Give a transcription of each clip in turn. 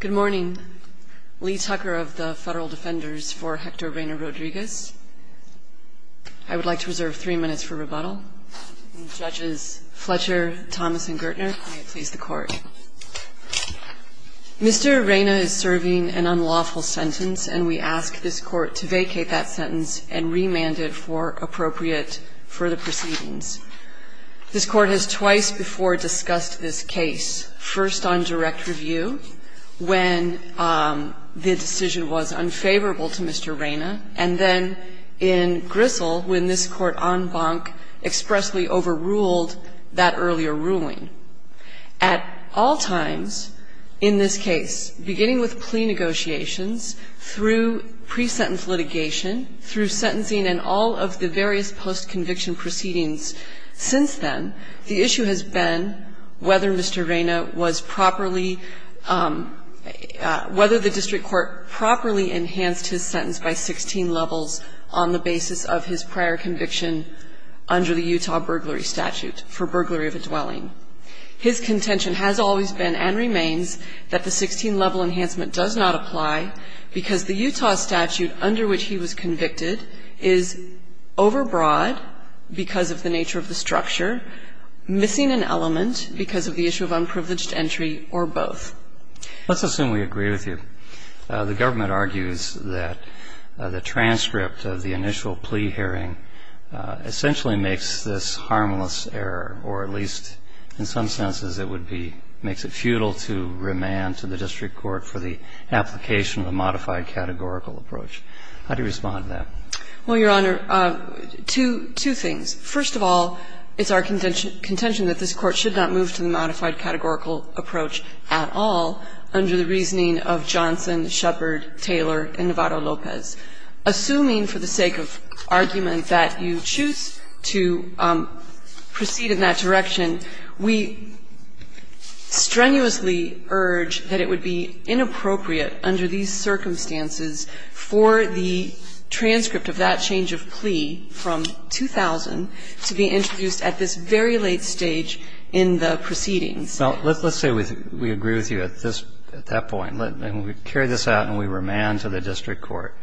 Good morning. Lee Tucker of the Federal Defenders for Hector Reina-Rodriguez. I would like to reserve three minutes for rebuttal. Judges Fletcher, Thomas, and Gertner, may it please the Court. Mr. Reina is serving an unlawful sentence, and we ask this Court to vacate that sentence and remand it for appropriate further proceedings. This Court has twice before discussed this review when the decision was unfavorable to Mr. Reina, and then in Grissel when this Court en banc expressly overruled that earlier ruling. At all times in this case, beginning with plea negotiations, through pre-sentence litigation, through sentencing and all of the various post-conviction proceedings since then, the District Court has always been, and remains, that the 16-level enhancement does not apply, because the Utah statute under which he was convicted is overbroad because of the nature of the structure, missing an element because of the issue of unprivileged Let's assume we agree with you. The government argues that the transcript of the initial plea hearing essentially makes this harmless error, or at least in some senses it would be makes it futile to remand to the District Court for the application of a modified categorical approach. How do you respond to that? Well, Your Honor, two things. First of all, it's our contention that this Court should not move to the modified categorical approach at all under the reasoning of Johnson, Shepard, Taylor, and Navarro-Lopez. Assuming for the sake of argument that you choose to proceed in that direction, we strenuously urge that it would be inappropriate under these circumstances for the transcript of that change of plea from 2000 to be introduced at this very late stage in the proceedings. Now, let's say we agree with you at this – at that point, and we carry this out and we remand to the District Court.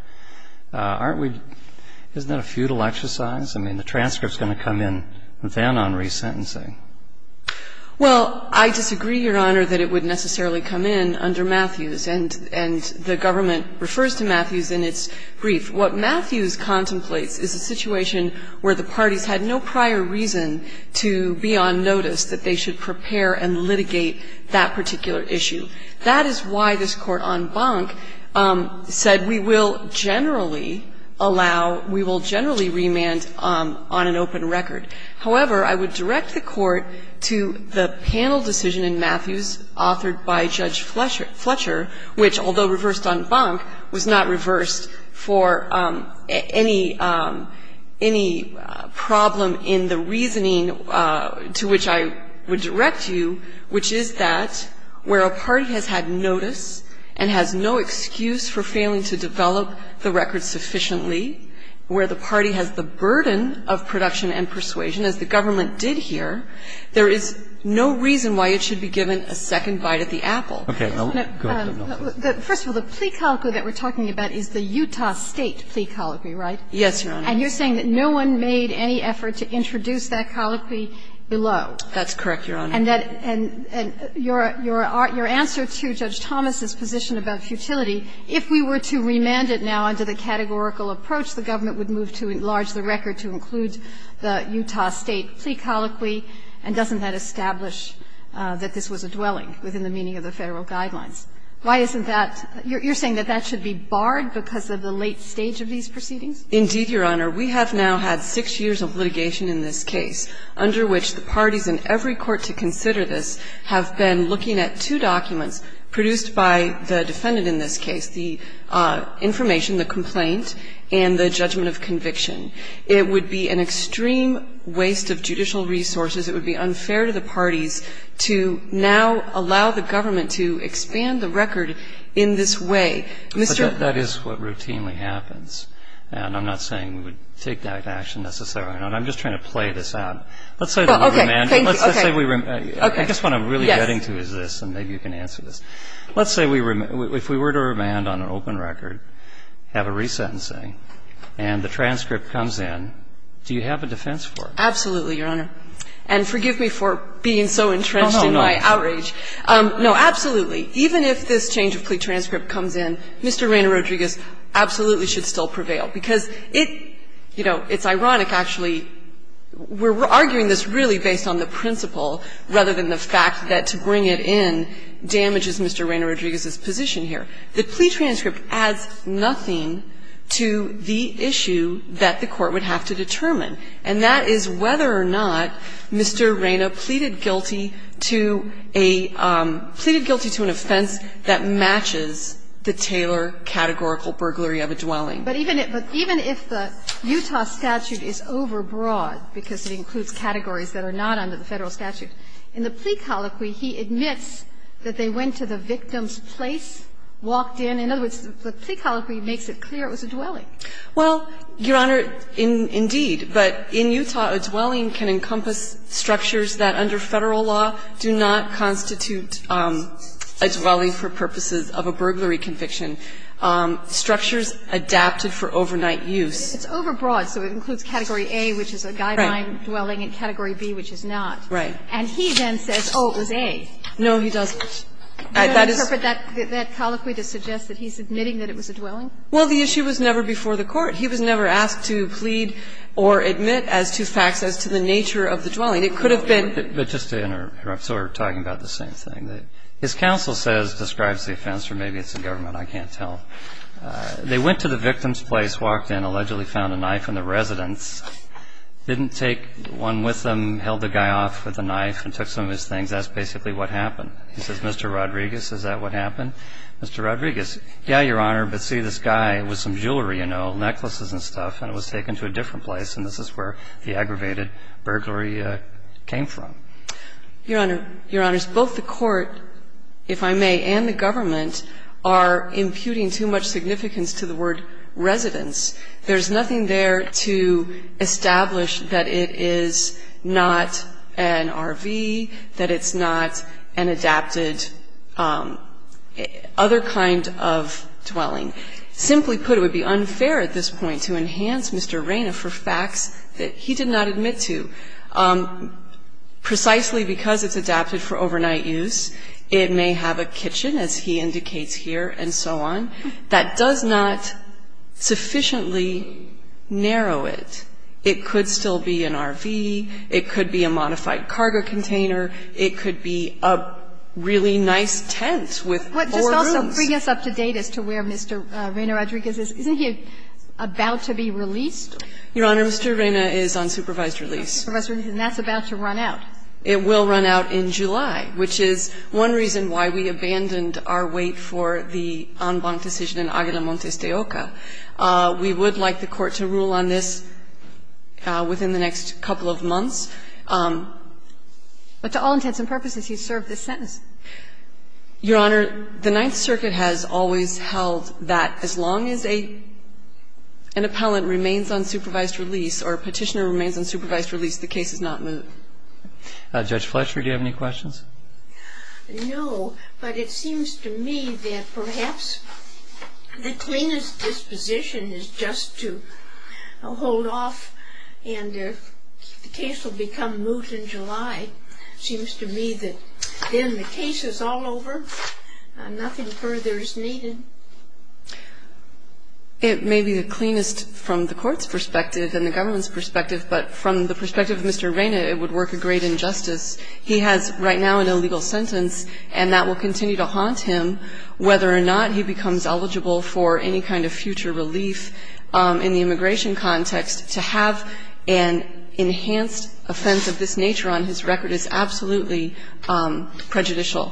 Aren't we – isn't that a futile exercise? I mean, the transcript's going to come in then on resentencing. Well, I disagree, Your Honor, that it would necessarily come in under Matthews, and the government refers to Matthews in its brief. What Matthews contemplates is a situation where the parties had no prior reason to be on notice that they should prepare and litigate that particular issue. That is why this Court on Bonk said we will generally allow – we will generally remand on an open record. However, I would direct the Court to the panel decision in Matthews authored by Judge Fletcher, which, although reversed on Bonk, was not in any problem in the reasoning to which I would direct you, which is that where a party has had notice and has no excuse for failing to develop the record sufficiently, where the party has the burden of production and persuasion, as the government did here, there is no reason why it should be given a second bite at the apple. First of all, the plea colloquy that we're talking about is the Utah State plea colloquy, right? Yes, Your Honor. And you're saying that no one made any effort to introduce that colloquy below. That's correct, Your Honor. And that – and your answer to Judge Thomas's position about futility, if we were to remand it now under the categorical approach, the government would move to enlarge the record to include the Utah State plea colloquy, and doesn't that establish that this was a dwelling within the meaning of the Federal guidelines? Why isn't that – you're saying that that should be barred because of the late stage of these proceedings? Indeed, Your Honor. We have now had six years of litigation in this case under which the parties in every court to consider this have been looking at two documents produced by the defendant in this case, the information, the complaint, and the judgment of conviction. It would be an extreme waste of judicial resources. It would be unfair to the parties to now allow the government to expand the record in this way. Mr. — But that is what routinely happens. And I'm not saying we would take that action necessarily. I'm just trying to play this out. Let's say that we remanded. Okay. Thank you. Let's say we – I guess what I'm really getting to is this, and maybe you can answer this. Let's say we – if we were to remand on an open record, have a resentencing, and the transcript comes in, do you have a defense for it? Absolutely, Your Honor. And forgive me for being so entrenched in my outrage. No, absolutely. Even if this change of plea transcript comes in, Mr. Rayner Rodriguez absolutely should still prevail, because it – you know, it's ironic, actually. We're arguing this really based on the principle rather than the fact that to bring it in damages Mr. Rayner Rodriguez's position here. The plea transcript adds nothing to the issue that the court would have to determine, and that is whether or not Mr. Rayner pleaded guilty to a – pleaded guilty to an offense that matches the Taylor categorical burglary of a dwelling. But even if the Utah statute is overbroad, because it includes categories that are not under the Federal statute, in the plea colloquy, he admits that they went to the victim's place, walked in. In other words, the plea colloquy makes it clear it was a dwelling. Well, Your Honor, indeed. But in Utah, a dwelling can encompass structures that under Federal law do not constitute a dwelling for purposes of a burglary conviction, structures adapted for overnight use. It's overbroad. So it includes Category A, which is a guideline dwelling, and Category B, which is not. Right. And he then says, oh, it was A. No, he doesn't. That is – Do you interpret that colloquy to suggest that he's admitting that it was a dwelling? Well, the issue was never before the Court. He was never asked to plead or admit as to facts as to the nature of the dwelling. It could have been – But just to interrupt, so we're talking about the same thing. His counsel says, describes the offense, or maybe it's the government, I can't tell, they went to the victim's place, walked in, allegedly found a knife in the residence, didn't take one with them, held the guy off with a knife and took some of his things. That's basically what happened. He says, Mr. Rodriguez, is that what happened? Mr. Rodriguez, yeah, Your Honor, but see, this guy with some jewelry, you know, necklaces and stuff, and it was taken to a different place, and this is where the aggravated burglary came from. Your Honor, Your Honors, both the Court, if I may, and the government are imputing too much significance to the word residence. There's nothing there to establish that it is not an RV, that it's not an adapted other kind of dwelling. Simply put, it would be unfair at this point to enhance Mr. Reyna for facts that he did not admit to. Precisely because it's adapted for overnight use, it may have a kitchen, as he indicates here, and so on, that does not sufficiently narrow it. It could still be an RV. It could be a modified cargo container. It could be a really nice tent with four rooms. But just also bring us up to date as to where Mr. Reyna Rodriguez is. Isn't he about to be released? Your Honor, Mr. Reyna is on supervised release. On supervised release, and that's about to run out. It will run out in July, which is one reason why we abandoned our wait for the en banc decision in Aguila Montes de Oca. But to all intents and purposes, he's served his sentence. Your Honor, the Ninth Circuit has always held that as long as an appellant remains on supervised release or a petitioner remains on supervised release, the case is not moved. Judge Fletcher, do you have any questions? No, but it seems to me that perhaps the cleanest disposition is just to hold off and the case will become moved in July. It seems to me that then the case is all over, nothing further is needed. It may be the cleanest from the court's perspective and the government's perspective, but from the perspective of Mr. Reyna, it would work a great injustice. He has right now an illegal sentence, and that will continue to haunt him whether or not he becomes eligible for any kind of future relief in the future. And enhanced offense of this nature on his record is absolutely prejudicial.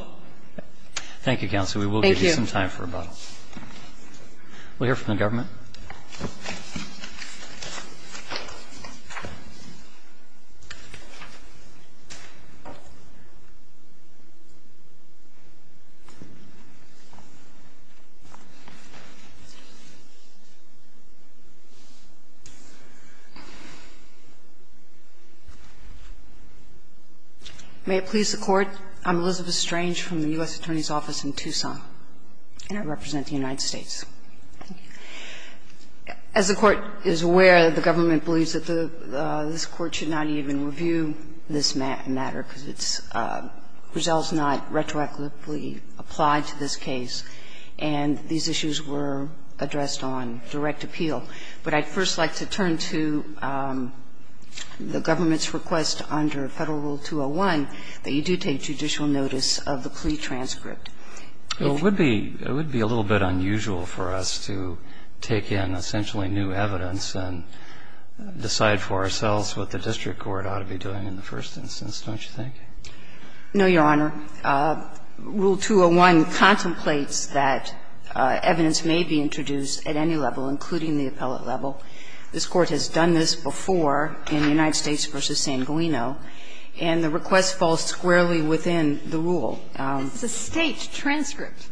Thank you, counsel. We will give you some time for rebuttal. We'll hear from the government. May it please the Court, I'm Elizabeth Strange from the U.S. Attorney's Office in Tucson, and I represent the United States. As the Court is aware, the government believes that this Court should not even review this matter because it's results not retroactively applied to this case, and these issues were addressed on direct appeal. But I'd first like to turn to the government's request under Federal Rule 201 that you do take judicial notice of the plea transcript. Well, it would be a little bit unusual for us to take in essentially new evidence and decide for ourselves what the district court ought to be doing in the first instance, don't you think? No, Your Honor. Rule 201 contemplates that evidence may be introduced at any level, including the appellate level. This Court has done this before in the United States v. San Guino, and the request falls squarely within the rule. It's a State transcript.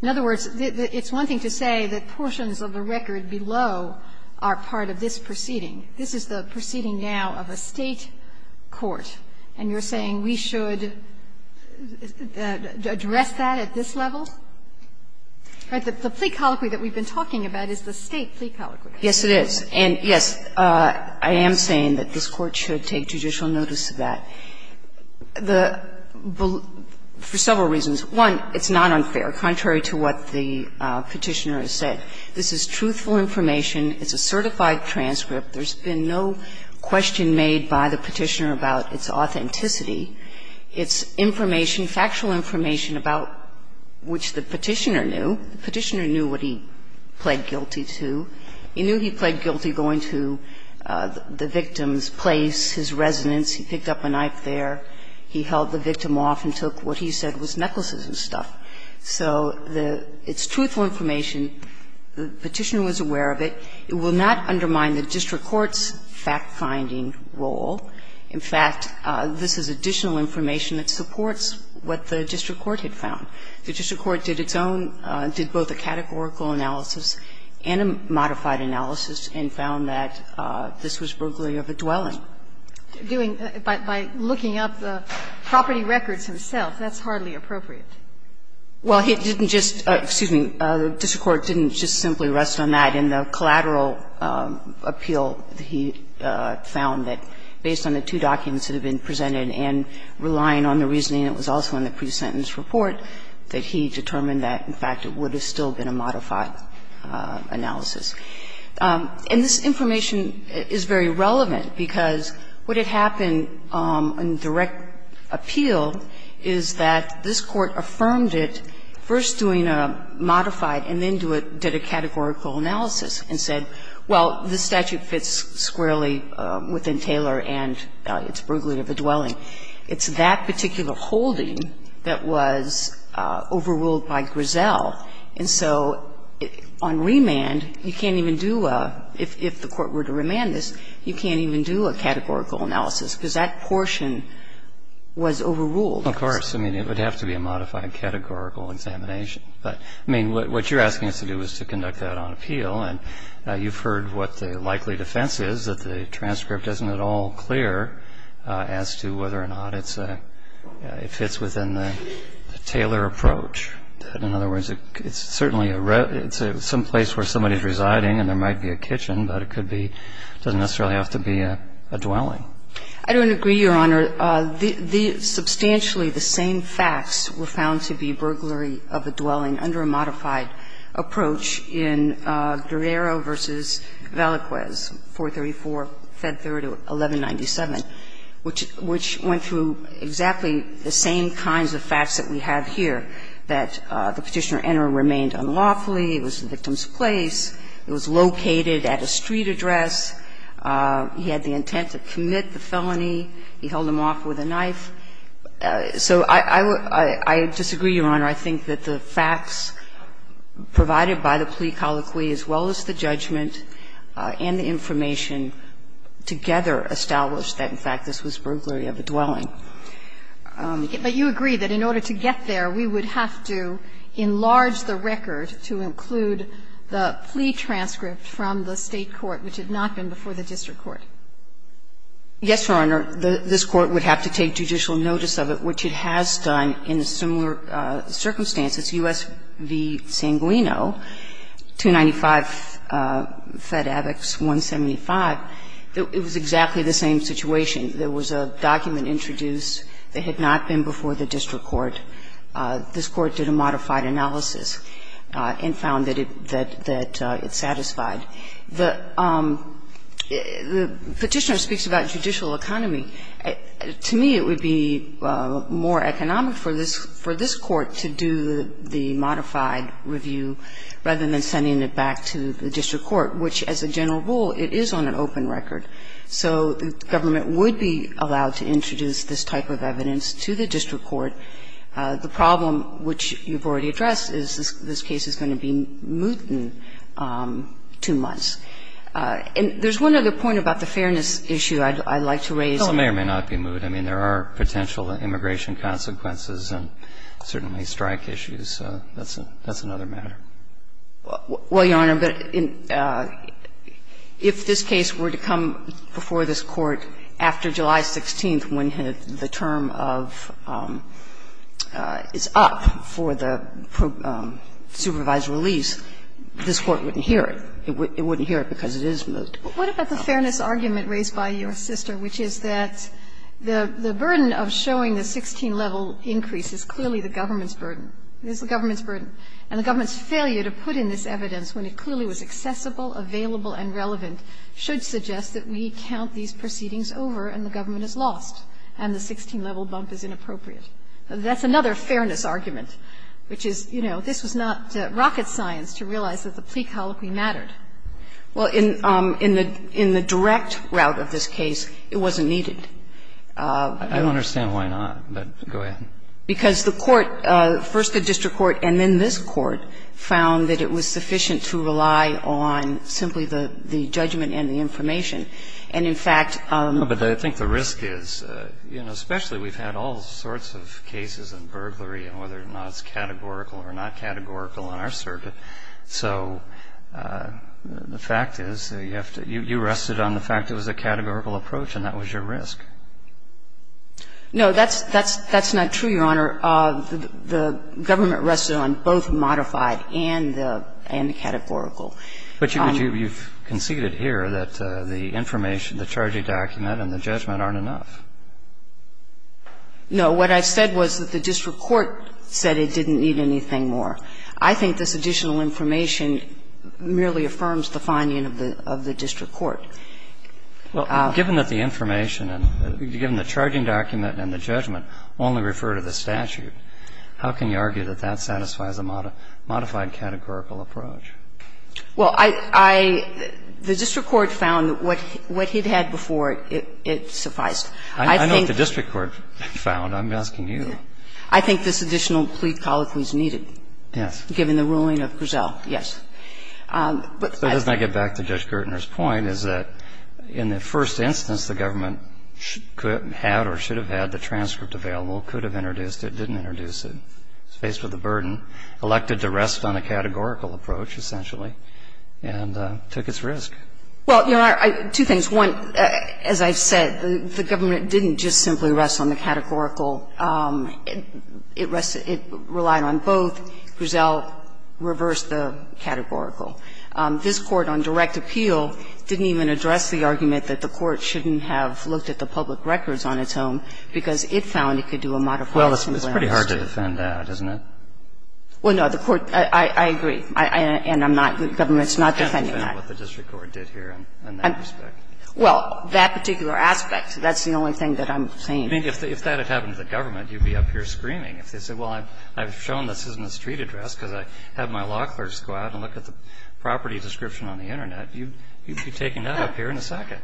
In other words, it's one thing to say that portions of the record below are part of this proceeding. This is the proceeding now of a State court, and you're saying we should address that at this level? The plea colloquy that we've been talking about is the State plea colloquy. Yes, it is. And, yes, I am saying that this Court should take judicial notice of that. The ---- for several reasons. One, it's not unfair, contrary to what the Petitioner has said. This is truthful information. It's a certified transcript. There's been no question made by the Petitioner about its authenticity. It's information, factual information about which the Petitioner knew. The Petitioner knew what he pled guilty to. He knew he pled guilty going to the victim's place, his residence. He picked up a knife there. He held the victim off and took what he said was necklaces and stuff. So the ---- it's truthful information. The Petitioner was aware of it. It will not undermine the district court's fact-finding role. In fact, this is additional information that supports what the district court had found. The district court did its own ---- did both a categorical analysis and a modified analysis and found that this was bruglia of a dwelling. Sotomayor, what did the district court do? Did the district court do anything else? By looking up the property records himself, that's hardly appropriate. Well, it didn't just ---- excuse me, the district court didn't just simply rest on that in the collateral appeal. He found that based on the two documents that had been presented and relying on the reasoning that was also in the pre-sentence report, that he determined that, in fact, it would have still been a modified analysis. And this information is very relevant, because what had happened in direct appeal is that this Court affirmed it, first doing a modified and then did a categorical analysis, and said, well, this statute fits squarely within Taylor and its bruglia of a dwelling. And so it's that particular holding that was overruled by Grisell. And so on remand, you can't even do a ---- if the Court were to remand this, you can't even do a categorical analysis, because that portion was overruled. Of course. I mean, it would have to be a modified categorical examination. But, I mean, what you're asking us to do is to conduct that on appeal. And you've heard what the likely defense is, that the transcript isn't at all clear as to whether or not it's a ---- it fits within the Taylor approach. In other words, it's certainly a ---- it's someplace where somebody is residing and there might be a kitchen, but it could be ---- it doesn't necessarily have to be a dwelling. I don't agree, Your Honor. The ---- substantially the same facts were found to be bruglia of a dwelling under a modified approach in Guerrero v. Vallequez, 434 Fed 3rd, 1197. Which went through exactly the same kinds of facts that we have here, that the Petitioner Enner remained unlawfully, it was the victim's place, it was located at a street address, he had the intent to commit the felony, he held him off with a knife. So I disagree, Your Honor. I think that the facts provided by the plea colloquy, as well as the judgment and the information, together establish that, in fact, this was bruglia of a dwelling. But you agree that in order to get there, we would have to enlarge the record to include the plea transcript from the State court, which had not been before the district court? Yes, Your Honor. This Court would have to take judicial notice of it, which it has done in similar circumstances. U.S. v. Sanguino, 295 Fed Avex, 175, it was exactly the same situation. There was a document introduced that had not been before the district court. This Court did a modified analysis and found that it satisfied. The Petitioner speaks about judicial economy. To me, it would be more economic for this Court to do the modified review rather than sending it back to the district court, which, as a general rule, it is on an open record. So the government would be allowed to introduce this type of evidence to the district court. The problem, which you've already addressed, is this case is going to be moot in two months. And there's one other point about the fairness issue I'd like to raise. Well, it may or may not be moot. I mean, there are potential immigration consequences and certainly strike issues. That's another matter. Well, Your Honor, but if this case were to come before this Court after July 16th when the term of the term is up for the supervised release, this Court wouldn't hear it. It wouldn't hear it because it is moot. What about the fairness argument raised by your sister, which is that the burden of showing the 16-level increase is clearly the government's burden? It is the government's burden. And the government's failure to put in this evidence when it clearly was accessible, available, and relevant should suggest that we count these proceedings over and the government is lost and the 16-level bump is inappropriate. That's another fairness argument, which is, you know, this was not rocket science to realize that the plea colloquy mattered. Well, in the direct route of this case, it wasn't needed. I don't understand why not, but go ahead. Because the Court, first the district court and then this Court, found that it was sufficient to rely on simply the judgment and the information. And in fact the risk is, you know, especially we've had all sorts of cases in burglary and whether or not it's categorical or not categorical on our circuit. So the fact is, you have to – you rested on the fact it was a categorical approach and that was your risk. No, that's not true, Your Honor. The government rested on both modified and the categorical. But you've conceded here that the information, the charging document and the judgment aren't enough. No. What I said was that the district court said it didn't need anything more. I think this additional information merely affirms the finding of the district court. Well, given that the information and given the charging document and the judgment only refer to the statute, how can you argue that that satisfies a modified categorical approach? Well, I – the district court found that what he'd had before, it sufficed. I know what the district court found. I'm asking you. I think this additional plea colloquy is needed. Given the ruling of Griselle, yes. But I think – So just to get back to Judge Gertner's point, is that in the first instance, the government could have had or should have had the transcript available, could have introduced it, didn't introduce it, was faced with a burden, elected to rest on a categorical approach, essentially, and took its risk. Well, Your Honor, two things. One, as I've said, the government didn't just simply rest on the categorical. It relied on both. Griselle reversed the categorical. This Court on direct appeal didn't even address the argument that the court shouldn't have looked at the public records on its own, because it found it could do a modified simple answer. Well, it's pretty hard to defend that, isn't it? Well, no, the court – I agree. And I'm not – the government's not defending that. I'm not defending that. I'm just saying that it's a matter of what the district court did here in that respect. Well, that particular aspect, that's the only thing that I'm saying. I think if that had happened to the government, you'd be up here screaming. If they said, well, I've shown this in the street address because I have my law clerks go out and look at the property description on the Internet, you'd be taking that up here in a second.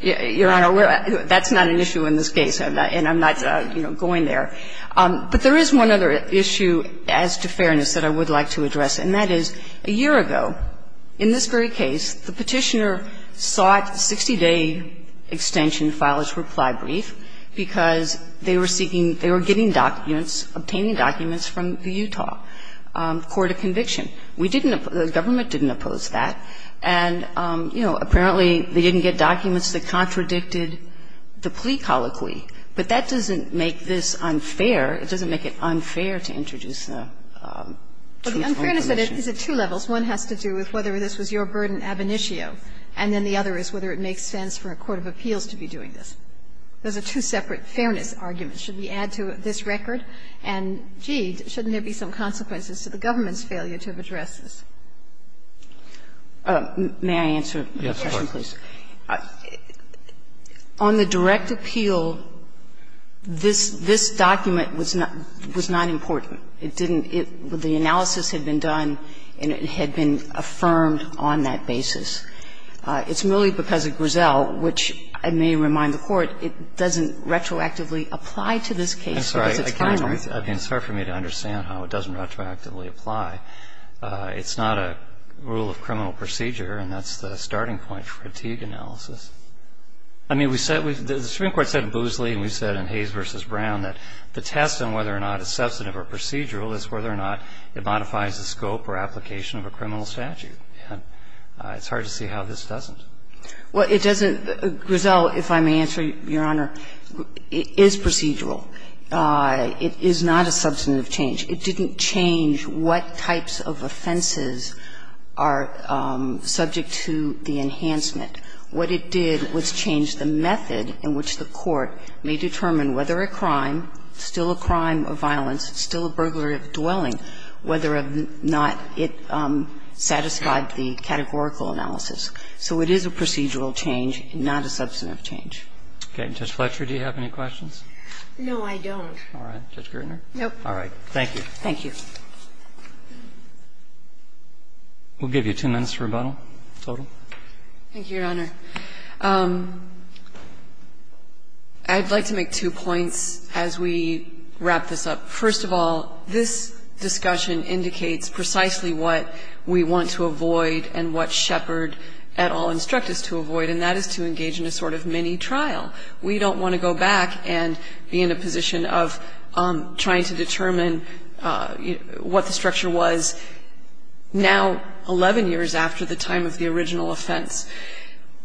Your Honor, that's not an issue in this case, and I'm not going there. But there is one other issue, as to fairness, that I would like to address, and that is, a year ago, in this very case, the Petitioner sought a 60-day extension file as reply brief because they were seeking – they were getting documents, obtaining documents from the Utah court of conviction. We didn't – the government didn't oppose that, and, you know, apparently they didn't get documents that contradicted the plea colloquy. But that doesn't make this unfair. It doesn't make it unfair to introduce a truth only permission. Well, the unfairness is at two levels. One has to do with whether this was your burden ab initio, and then the other is whether it makes sense for a court of appeals to be doing this. Those are two separate fairness arguments. Should we add to this record? And, gee, shouldn't there be some consequences to the government's failure to have addressed this? May I answer a question, please? Yes, of course. On the direct appeal, this – this document was not – was not important. It didn't – the analysis had been done, and it had been affirmed on that basis. It's merely because of Grisell, which I may remind the Court, it doesn't retroactively apply to this case because it's final. I'm sorry. I can't – I mean, it's hard for me to understand how it doesn't retroactively apply. It's not a rule of criminal procedure, and that's the starting point for fatigue analysis. I mean, we said – the Supreme Court said in Boosley and we said in Hayes v. Brown that the test on whether or not it's substantive or procedural is whether or not it modifies the scope or application of a criminal statute. It's hard to see how this doesn't. Well, it doesn't – Grisell, if I may answer, Your Honor, it is procedural. It is not a substantive change. It didn't change what types of offenses are subject to the enhancement. What it did was change the method in which the Court may determine whether a crime still a crime of violence, still a burglar of dwelling, whether or not it satisfied the categorical analysis. So it is a procedural change, not a substantive change. Okay. And, Judge Fletcher, do you have any questions? No, I don't. All right. Judge Gertner? No. All right. Thank you. Thank you. We'll give you two minutes for rebuttal, total. Thank you, Your Honor. I'd like to make two points as we wrap this up. First of all, this discussion indicates precisely what we want to avoid and what Shepard et al. instruct us to avoid, and that is to engage in a sort of mini-trial. We don't want to go back and be in a position of trying to determine what the structure of the crime was, and that the statute of limitations of the crime, and the statute of limitations of the crime, was now 11 years after the time of the original offense.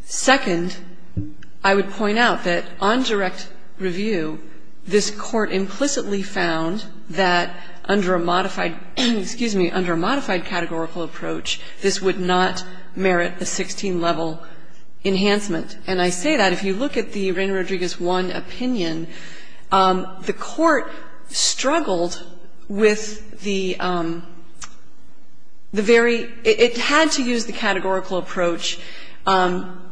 Second, I would point out that on direct review, this Court implicitly found that under a modified categorical approach, this would not merit a 16-level enhancement. And I say that, if you look at the Wren Rodriguez 1 opinion, the Court struggled with the very – it had to use the categorical approach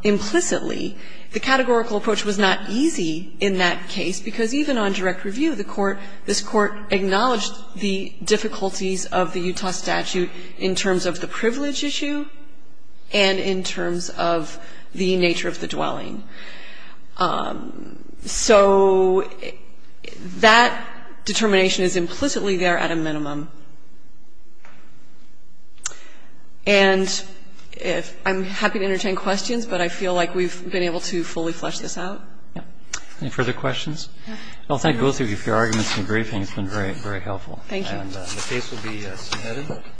implicitly. The categorical approach was not easy in that case, because even on direct review, the Court – this Court acknowledged the difficulties of the Utah statute in terms of the privilege issue and in terms of the nature of the dwelling. So that determination is implicitly there at a minimum. And if – I'm happy to entertain questions, but I feel like we've been able to fully flesh this out. Yeah. Any further questions? I'll thank both of you for your arguments in the briefing. It's been very, very helpful. Thank you.